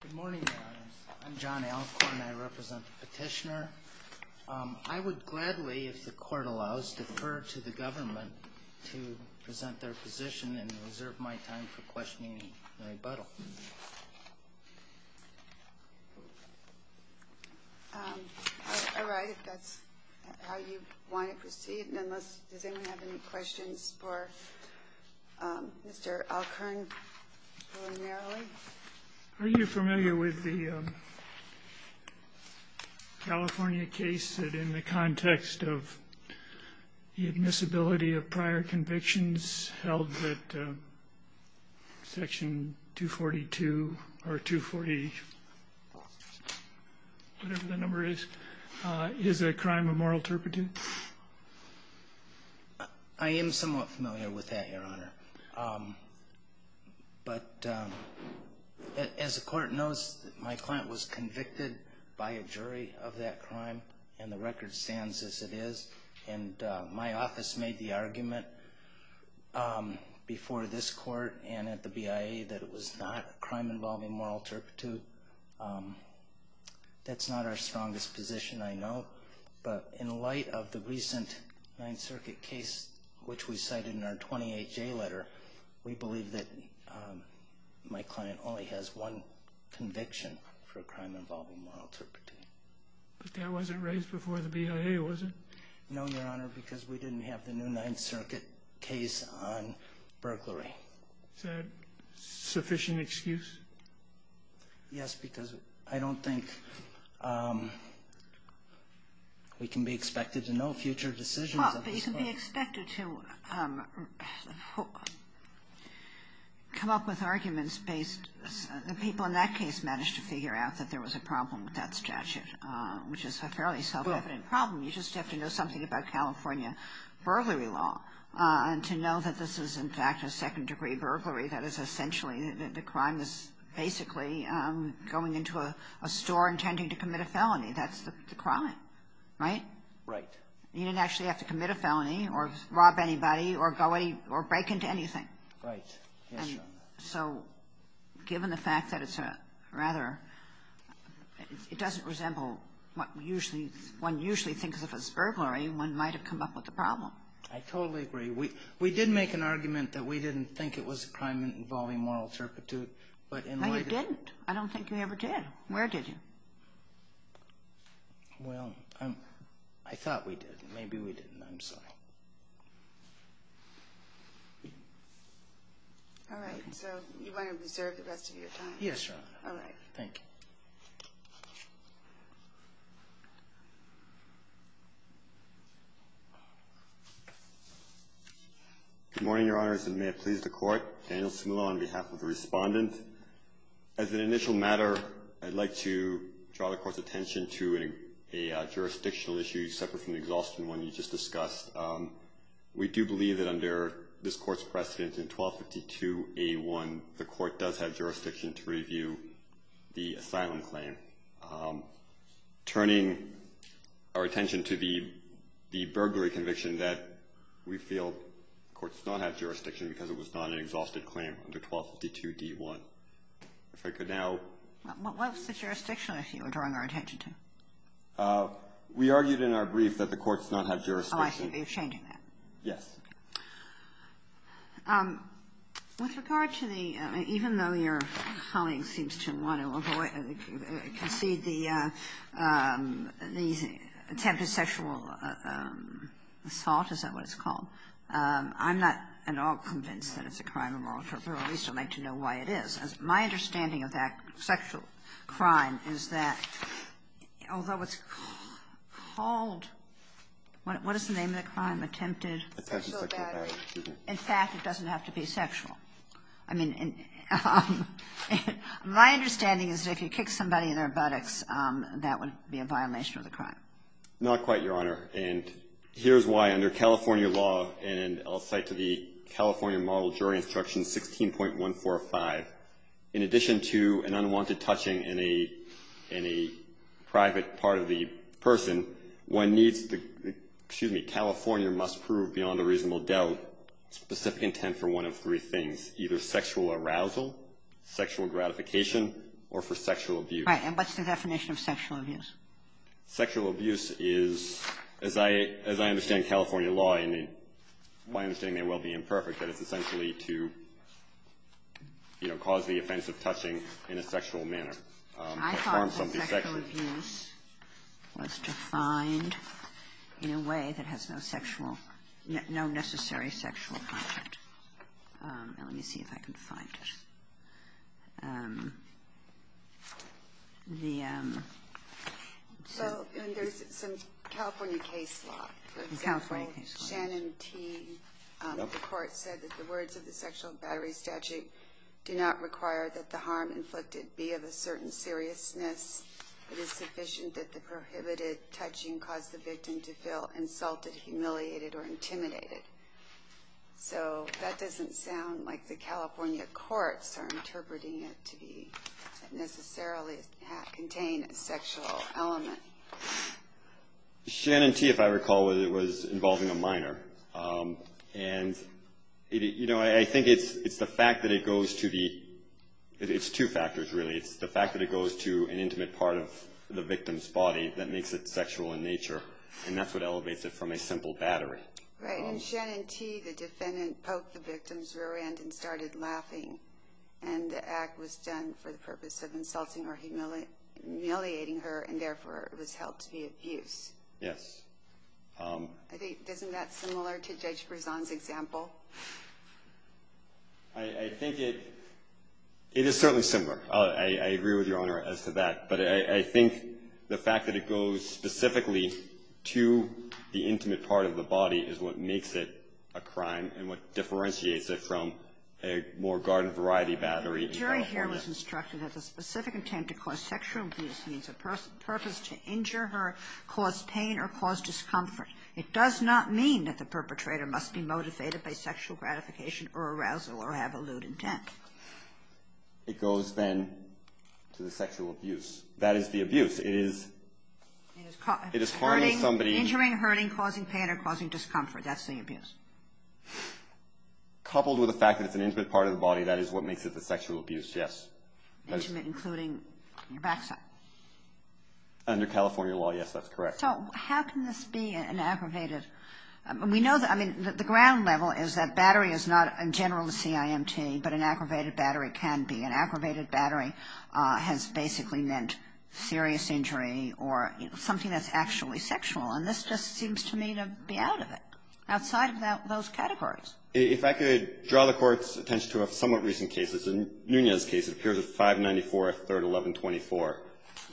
Good morning, Your Honors. I'm John Alcorn. I represent the petitioner. I would gladly, if the Court allows, defer to the government to present their position and reserve my time for questioning Mary Buttle. All right. If that's how you want to proceed, then does anyone have any questions for Mr. Alcorn preliminarily? Are you familiar with the California case that in the context of the admissibility of prior convictions held that Section 242 or 240, whatever the number is, is a crime of moral turpitude? I am somewhat familiar with that, Your Honor. But as the Court knows, my client was convicted by a jury of that crime, and the record stands as it is. And my office made the argument before this Court and at the BIA that it was not a crime involving moral turpitude. That's not our strongest position, I know, but in light of the recent Ninth Circuit case, which we cited in our 28-J letter, we believe that my client only has one conviction for a crime involving moral turpitude. But that wasn't raised before the BIA, was it? No, Your Honor, because we didn't have the new Ninth Circuit case on burglary. Is that a sufficient excuse? Yes, because I don't think we can be expected to know future decisions of this Court. But you can be expected to come up with arguments based the people in that case managed to figure out that there was a problem with that statute, which is a fairly self-evident problem. You just have to know something about California burglary law to know that this is, in fact, a second-degree burglary. That is, essentially, the crime is basically going into a store intending to commit a felony. That's the crime, right? Right. You didn't actually have to commit a felony or rob anybody or break into anything. Right. Yes, Your Honor. So given the fact that it's a rather – it doesn't resemble what one usually thinks of as burglary, one might have come up with a problem. I totally agree. We did make an argument that we didn't think it was a crime involving moral turpitude. No, you didn't. I don't think you ever did. Where did you? Well, I thought we did. Maybe we didn't. I'm sorry. All right. So you want to reserve the rest of your time? Yes, Your Honor. All right. Thank you. Good morning, Your Honors, and may it please the Court. Daniel Cimolo on behalf of the Respondent. As an initial matter, I'd like to draw the Court's attention to a jurisdictional issue separate from the exhaustion one you just discussed. We do believe that under this Court's precedent in 1252A1, the Court does have jurisdiction to review the asylum claim. Turning our attention to the burglary conviction, that we feel the Court does not have jurisdiction because it was not an exhausted claim under 1252D1. If I could now – What was the jurisdiction issue you were drawing our attention to? We argued in our brief that the Court does not have jurisdiction – Oh, I see. You're changing that. Yes. With regard to the – even though your colleague seems to want to avoid – concede the attempted sexual assault, is that what it's called? I'm not at all convinced that it's a crime of moral torture. At least I'd like to know why it is. My understanding of that sexual crime is that although it's called – what is the name of the crime? Attempted – Attempted sexual battery. In fact, it doesn't have to be sexual. I mean, my understanding is if you kick somebody in their buttocks, that would be a violation of the crime. Not quite, Your Honor. And here's why. Under California law, and I'll cite to the California Model Jury Instruction 16.145, in addition to an unwanted touching in a – in a private part of the person, one needs to – excuse me, California must prove beyond a reasonable doubt specific intent for one of three things, either sexual arousal, sexual gratification, or for sexual abuse. Right. And what's the definition of sexual abuse? Sexual abuse is, as I – as I understand California law, and my understanding may well be imperfect, that it's essentially to, you know, cause the offense of touching in a sexual manner. I thought that sexual abuse was defined in a way that has no sexual – no necessary sexual content. Let me see if I can find it. The – so – And there's some California case law. California case law. For example, Shannon T., the court said that the words of the sexual battery statute do not require that the harm inflicted be of a certain seriousness. It is sufficient that the prohibited touching cause the victim to feel insulted, humiliated, or intimidated. So that doesn't sound like the California courts are interpreting it to be necessarily contain a sexual element. Shannon T., if I recall, was involving a minor. And, you know, I think it's the fact that it goes to the – it's two factors, really. It's the fact that it goes to an intimate part of the victim's body that makes it sexual in nature, and that's what elevates it from a simple battery. Right. And Shannon T., the defendant, poked the victim's rear end and started laughing, and the act was done for the purpose of insulting or humiliating her, and therefore it was held to be abuse. Yes. I think – isn't that similar to Judge Brezon's example? I think it – it is certainly similar. I agree with Your Honor as to that. But I think the fact that it goes specifically to the intimate part of the body is what makes it a crime and what differentiates it from a more garden-variety battery in California. Jerry here was instructed that the specific intent to cause sexual abuse means a purpose to injure her, cause pain, or cause discomfort. It does not mean that the perpetrator must be motivated by sexual gratification or arousal or have a lewd intent. It goes, then, to the sexual abuse. That is the abuse. It is – it is harming somebody. Injuring, hurting, causing pain, or causing discomfort. That's the abuse. Coupled with the fact that it's an intimate part of the body, that is what makes it a sexual abuse, yes. Intimate, including your backside. Under California law, yes, that's correct. So how can this be an aggravated – We know that – I mean, the ground level is that battery is not, in general, a CIMT, but an aggravated battery can be. An aggravated battery has basically meant serious injury or something that's actually sexual. And this just seems to me to be out of it, outside of those categories. If I could draw the Court's attention to a somewhat recent case. It's a Nunez case. It appears at 594-3-1124.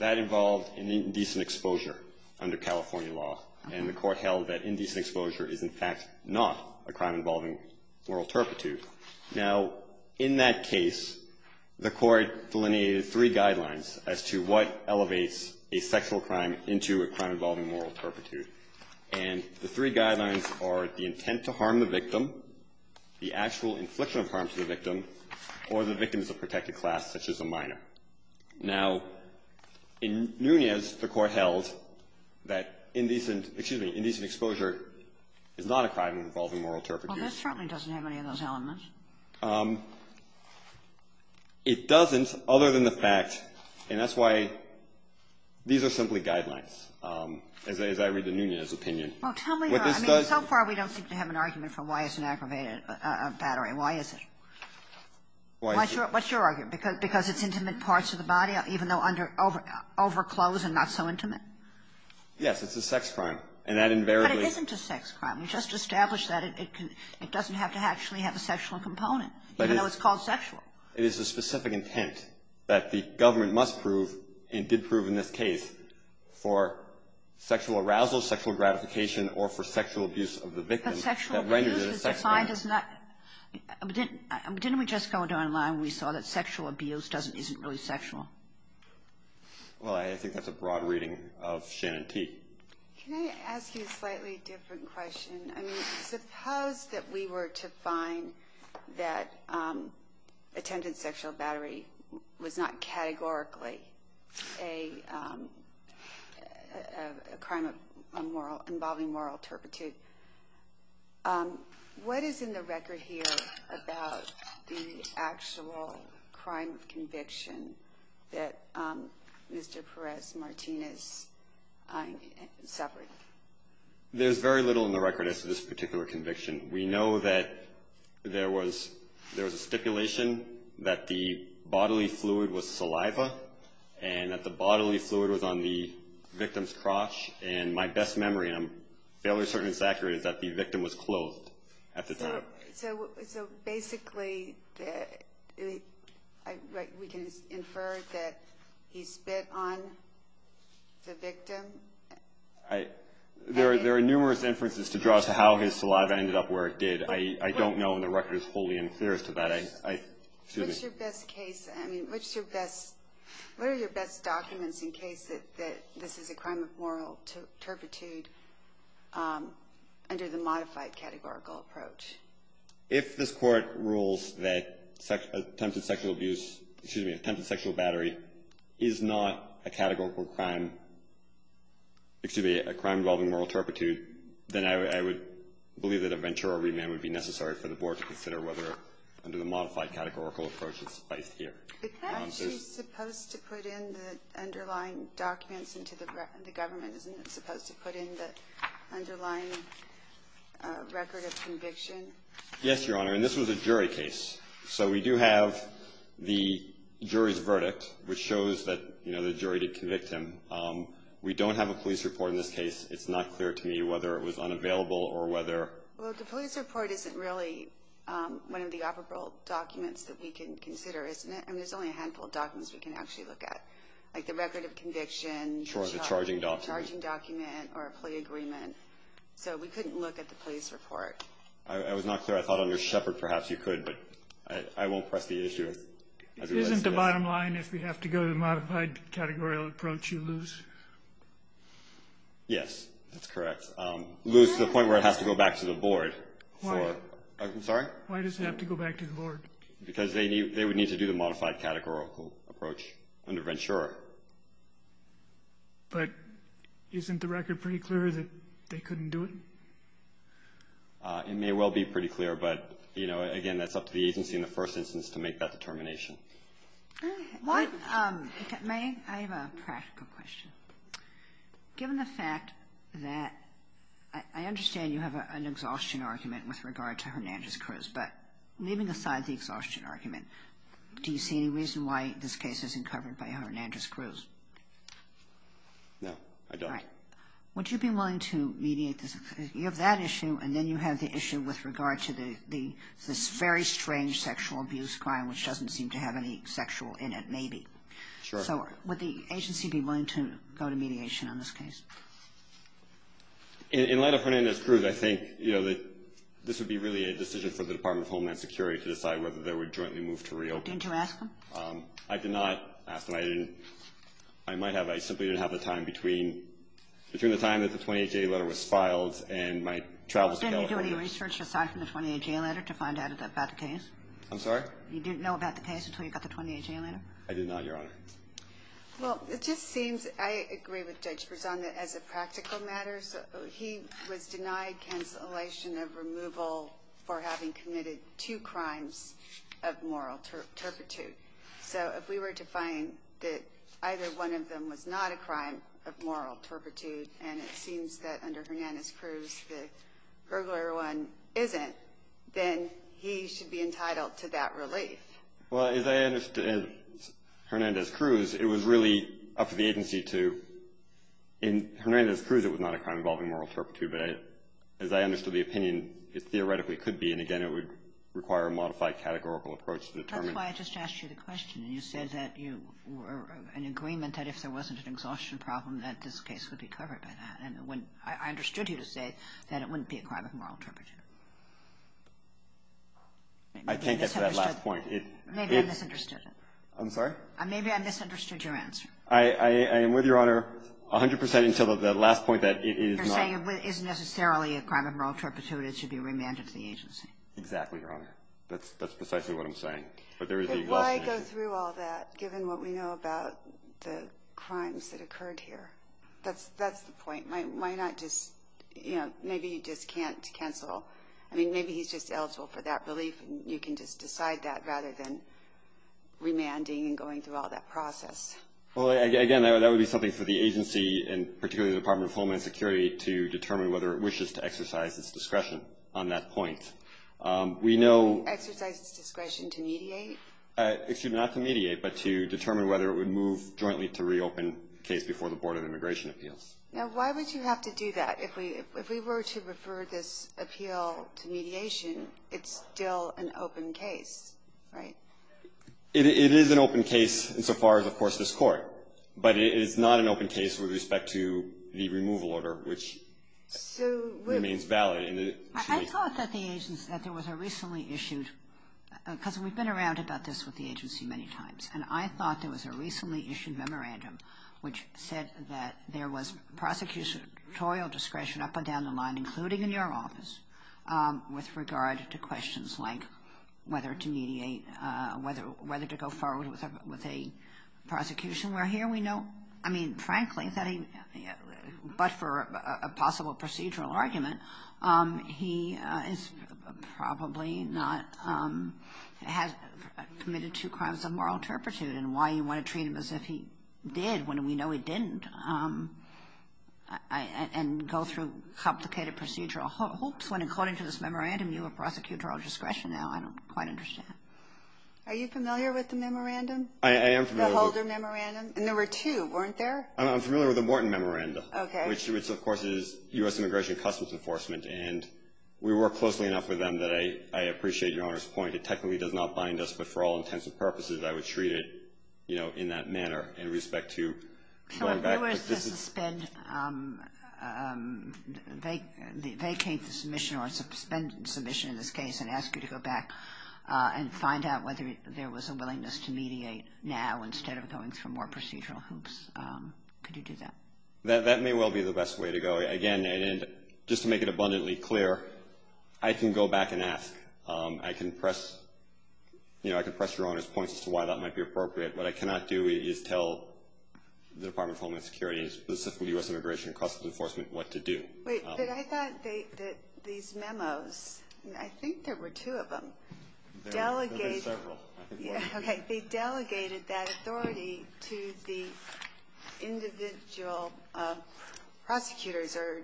That involved an indecent exposure under California law. And the Court held that indecent exposure is, in fact, not a crime involving moral turpitude. Now, in that case, the Court delineated three guidelines as to what elevates a sexual crime into a crime involving moral turpitude. And the three guidelines are the intent to harm the victim, the actual infliction of harm to the victim, or the victim is a protected class, such as a minor. Now, in Nunez, the Court held that indecent – excuse me – indecent exposure is not a crime involving moral turpitude. Well, this certainly doesn't have any of those elements. It doesn't, other than the fact – and that's why these are simply guidelines, as I read the Nunez opinion. Well, tell me, though. I mean, so far we don't seem to have an argument for why it's an aggravated battery. Why is it? Why is it? What's your argument? Because it's intimate parts of the body, even though under – overclosed and not so intimate? Yes. It's a sex crime. And that invariably – But it isn't a sex crime. We just established that it can – it doesn't have to actually have a sexual component, even though it's called sexual. It is a specific intent that the government must prove, and did prove in this case, for sexual arousal, sexual gratification, or for sexual abuse of the victim. But sexual abuse is defined as not – Didn't we just go down a line where we saw that sexual abuse doesn't – isn't really sexual? Well, I think that's a broad reading of Shannon Teague. Can I ask you a slightly different question? I mean, suppose that we were to find that attempted sexual battery was not categorically a crime involving moral turpitude. What is in the record here about the actual crime of conviction that Mr. Perez-Martinez suffered? There's very little in the record as to this particular conviction. We know that there was – there was a stipulation that the bodily fluid was saliva and that the bodily fluid was on the victim's crotch. And my best memory, and I'm fairly certain it's accurate, is that the victim was clothed at the time. So basically, we can infer that he spit on the victim? I – there are numerous inferences to draw to how his saliva ended up where it did. I don't know when the record is fully and clear as to that. What's your best case – I mean, what's your best – what are your best documents in case that this is a crime of moral turpitude under the modified categorical approach? If this Court rules that attempted sexual abuse – excuse me, attempted sexual battery is not a categorical crime – excuse me, a crime involving moral turpitude, then I would believe that a ventura remand would be necessary for the Board to consider whether, under the modified categorical approach, it's suffice here. It's actually supposed to put in the underlying documents into the government, isn't it supposed to put in the underlying record of conviction? Yes, Your Honor, and this was a jury case. So we do have the jury's verdict, which shows that, you know, the jury did convict him. We don't have a police report in this case. It's not clear to me whether it was unavailable or whether – Well, the police report isn't really one of the operable documents that we can consider, isn't it? I mean, there's only a handful of documents we can actually look at, like the record of conviction. Sure, the charging document. Charging document or a plea agreement. So we couldn't look at the police report. I was not clear. I thought under Shepard perhaps you could, but I won't press the issue. Isn't the bottom line if we have to go to the modified categorical approach, you lose? Yes, that's correct. Lose to the point where it has to go back to the board. Why does it have to go back to the board? Because they would need to do the modified categorical approach under Ventura. But isn't the record pretty clear that they couldn't do it? It may well be pretty clear, but, you know, again, it's up to the agency in the first instance to make that determination. May I have a practical question? Given the fact that I understand you have an exhaustion argument with regard to Hernandez-Cruz, but leaving aside the exhaustion argument, do you see any reason why this case isn't covered by Hernandez-Cruz? No, I don't. Would you be willing to mediate this? You have that issue, and then you have the issue with regard to this very strange sexual abuse crime which doesn't seem to have any sexual in it, maybe. Sure. So would the agency be willing to go to mediation on this case? In light of Hernandez-Cruz, I think, you know, this would be really a decision for the Department of Homeland Security to decide whether they would jointly move to reopen. Didn't you ask them? I did not ask them. I didn't. I might have. I simply didn't have the time between the time that the 28-J letter was filed and my travels to California. Didn't you do any research aside from the 28-J letter to find out about the case? I'm sorry? You didn't know about the case until you got the 28-J letter? I did not, Your Honor. Well, it just seems I agree with Judge Berzon that as a practical matter, he was denied cancellation of removal for having committed two crimes of moral turpitude. So if we were to find that either one of them was not a crime of moral turpitude and it seems that under Hernandez-Cruz the burglar one isn't, then he should be entitled to that relief. Well, as I understand, Hernandez-Cruz, it was really up to the agency to – in Hernandez-Cruz, it was not a crime involving moral turpitude. But as I understood the opinion, it theoretically could be. And, again, it would require a modified categorical approach to determine. That's why I just asked you the question. You said that you were in agreement that if there wasn't an exhaustion problem, that this case would be covered by that. And I understood you to say that it wouldn't be a crime of moral turpitude. I think that's that last point. Maybe I misunderstood it. I'm sorry? Maybe I misunderstood your answer. I am with Your Honor 100 percent until the last point that it is not. You're saying it isn't necessarily a crime of moral turpitude. It should be remanded to the agency. Exactly, Your Honor. That's precisely what I'm saying. Why go through all that, given what we know about the crimes that occurred here? That's the point. Why not just – maybe you just can't cancel. I mean, maybe he's just eligible for that relief, and you can just decide that rather than remanding and going through all that process. Well, again, that would be something for the agency, and particularly the Department of Homeland Security, to determine whether it wishes to exercise its discretion on that point. We know – Exercise its discretion to mediate? Excuse me, not to mediate, but to determine whether it would move jointly to reopen the case before the Board of Immigration Appeals. Now, why would you have to do that? If we were to refer this appeal to mediation, it's still an open case, right? It is an open case insofar as, of course, this Court. But it is not an open case with respect to the removal order, which remains valid. I thought that the agency – that there was a recently issued – because we've been around about this with the agency many times, and I thought there was a recently issued memorandum which said that there was prosecutorial discretion up and down the line, including in your office, with regard to questions like whether to mediate, whether to go forward with a prosecution, I mean, frankly, that he – but for a possible procedural argument, he is probably not – has committed two crimes of moral turpitude. And why you want to treat him as if he did when we know he didn't and go through complicated procedural hoops when according to this memorandum you have prosecutorial discretion now, I don't quite understand. Are you familiar with the memorandum? I am familiar. The Holder Memorandum? And there were two, weren't there? I'm familiar with the Morton Memorandum. Okay. Which, of course, is U.S. Immigration and Customs Enforcement, and we work closely enough with them that I appreciate Your Honor's point. It technically does not bind us, but for all intents and purposes, I would treat it, you know, in that manner in respect to – So if you were to suspend – vacate the submission or suspend the submission in this case and ask you to go back and find out whether there was a willingness to mediate now instead of going through more procedural hoops, could you do that? That may well be the best way to go. Again, just to make it abundantly clear, I can go back and ask. I can press, you know, I can press Your Honor's point as to why that might be appropriate. What I cannot do is tell the Department of Homeland Security and specifically U.S. Immigration and Customs Enforcement what to do. Wait. I thought that these memos – I think there were two of them. There are several. Okay. They delegated that authority to the individual prosecutors or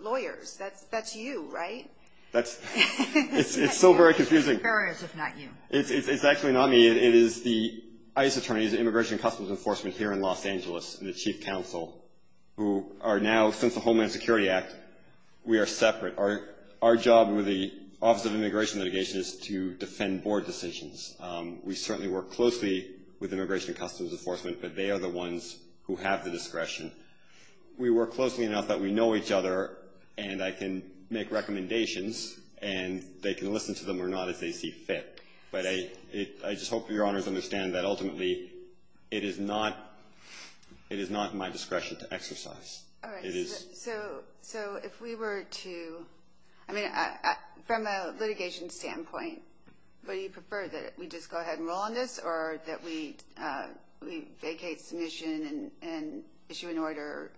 lawyers. That's you, right? It's so very confusing. It's actually not me. It is the ICE attorneys, the Immigration and Customs Enforcement here in Los Angeles, who are now, since the Homeland Security Act, we are separate. Our job with the Office of Immigration Litigation is to defend board decisions. We certainly work closely with Immigration and Customs Enforcement, but they are the ones who have the discretion. We work closely enough that we know each other, and I can make recommendations, and they can listen to them or not as they see fit. But I just hope Your Honors understand that ultimately it is not my discretion to exercise. All right. So if we were to – I mean, from a litigation standpoint, would you prefer that we just go ahead and roll on this or that we vacate submission and issue an order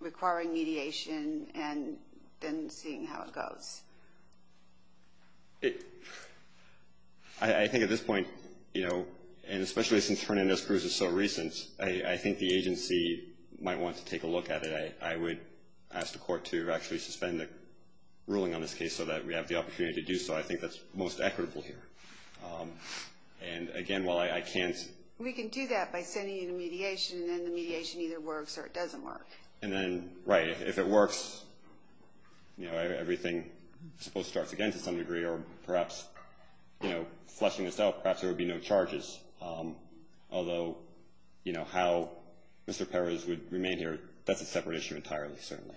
requiring mediation and then seeing how it goes? I think at this point, you know, and especially since Hernandez-Cruz is so recent, I think the agency might want to take a look at it. I would ask the court to actually suspend the ruling on this case so that we have the opportunity to do so. I think that's most equitable here. And, again, while I can't – We can do that by sending you the mediation, and then the mediation either works or it doesn't work. And then, right, if it works, you know, everything is supposed to start again to some degree, or perhaps, you know, fleshing this out, perhaps there would be no charges. Although, you know, how Mr. Perez would remain here, that's a separate issue entirely, certainly.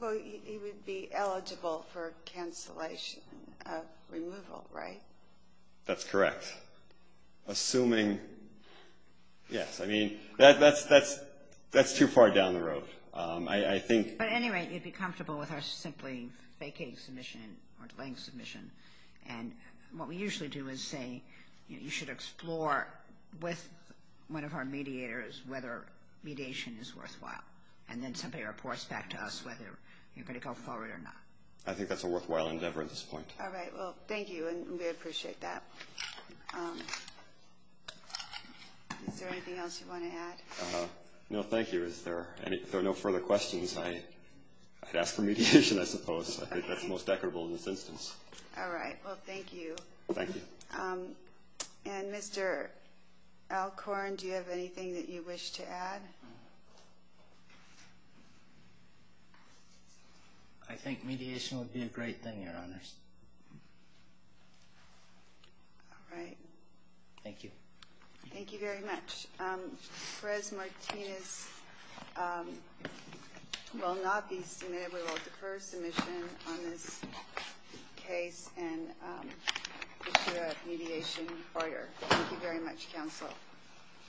Well, he would be eligible for cancellation of removal, right? That's correct. Assuming – yes, I mean, that's too far down the road. I think – But, anyway, you'd be comfortable with our simply vacating submission or delaying submission. And what we usually do is say you should explore with one of our mediators whether mediation is worthwhile, and then somebody reports back to us whether you're going to go forward or not. I think that's a worthwhile endeavor at this point. All right. Well, thank you, and we appreciate that. Is there anything else you want to add? No, thank you. If there are no further questions, I'd ask for mediation, I suppose. I think that's most equitable in this instance. All right. Well, thank you. Thank you. And, Mr. Alcorn, do you have anything that you wish to add? I think mediation would be a great thing, Your Honors. All right. Thank you. Thank you very much. Perez Martinez will not be submitted. We will defer submission on this case and issue a mediation order. Thank you very much, Counsel.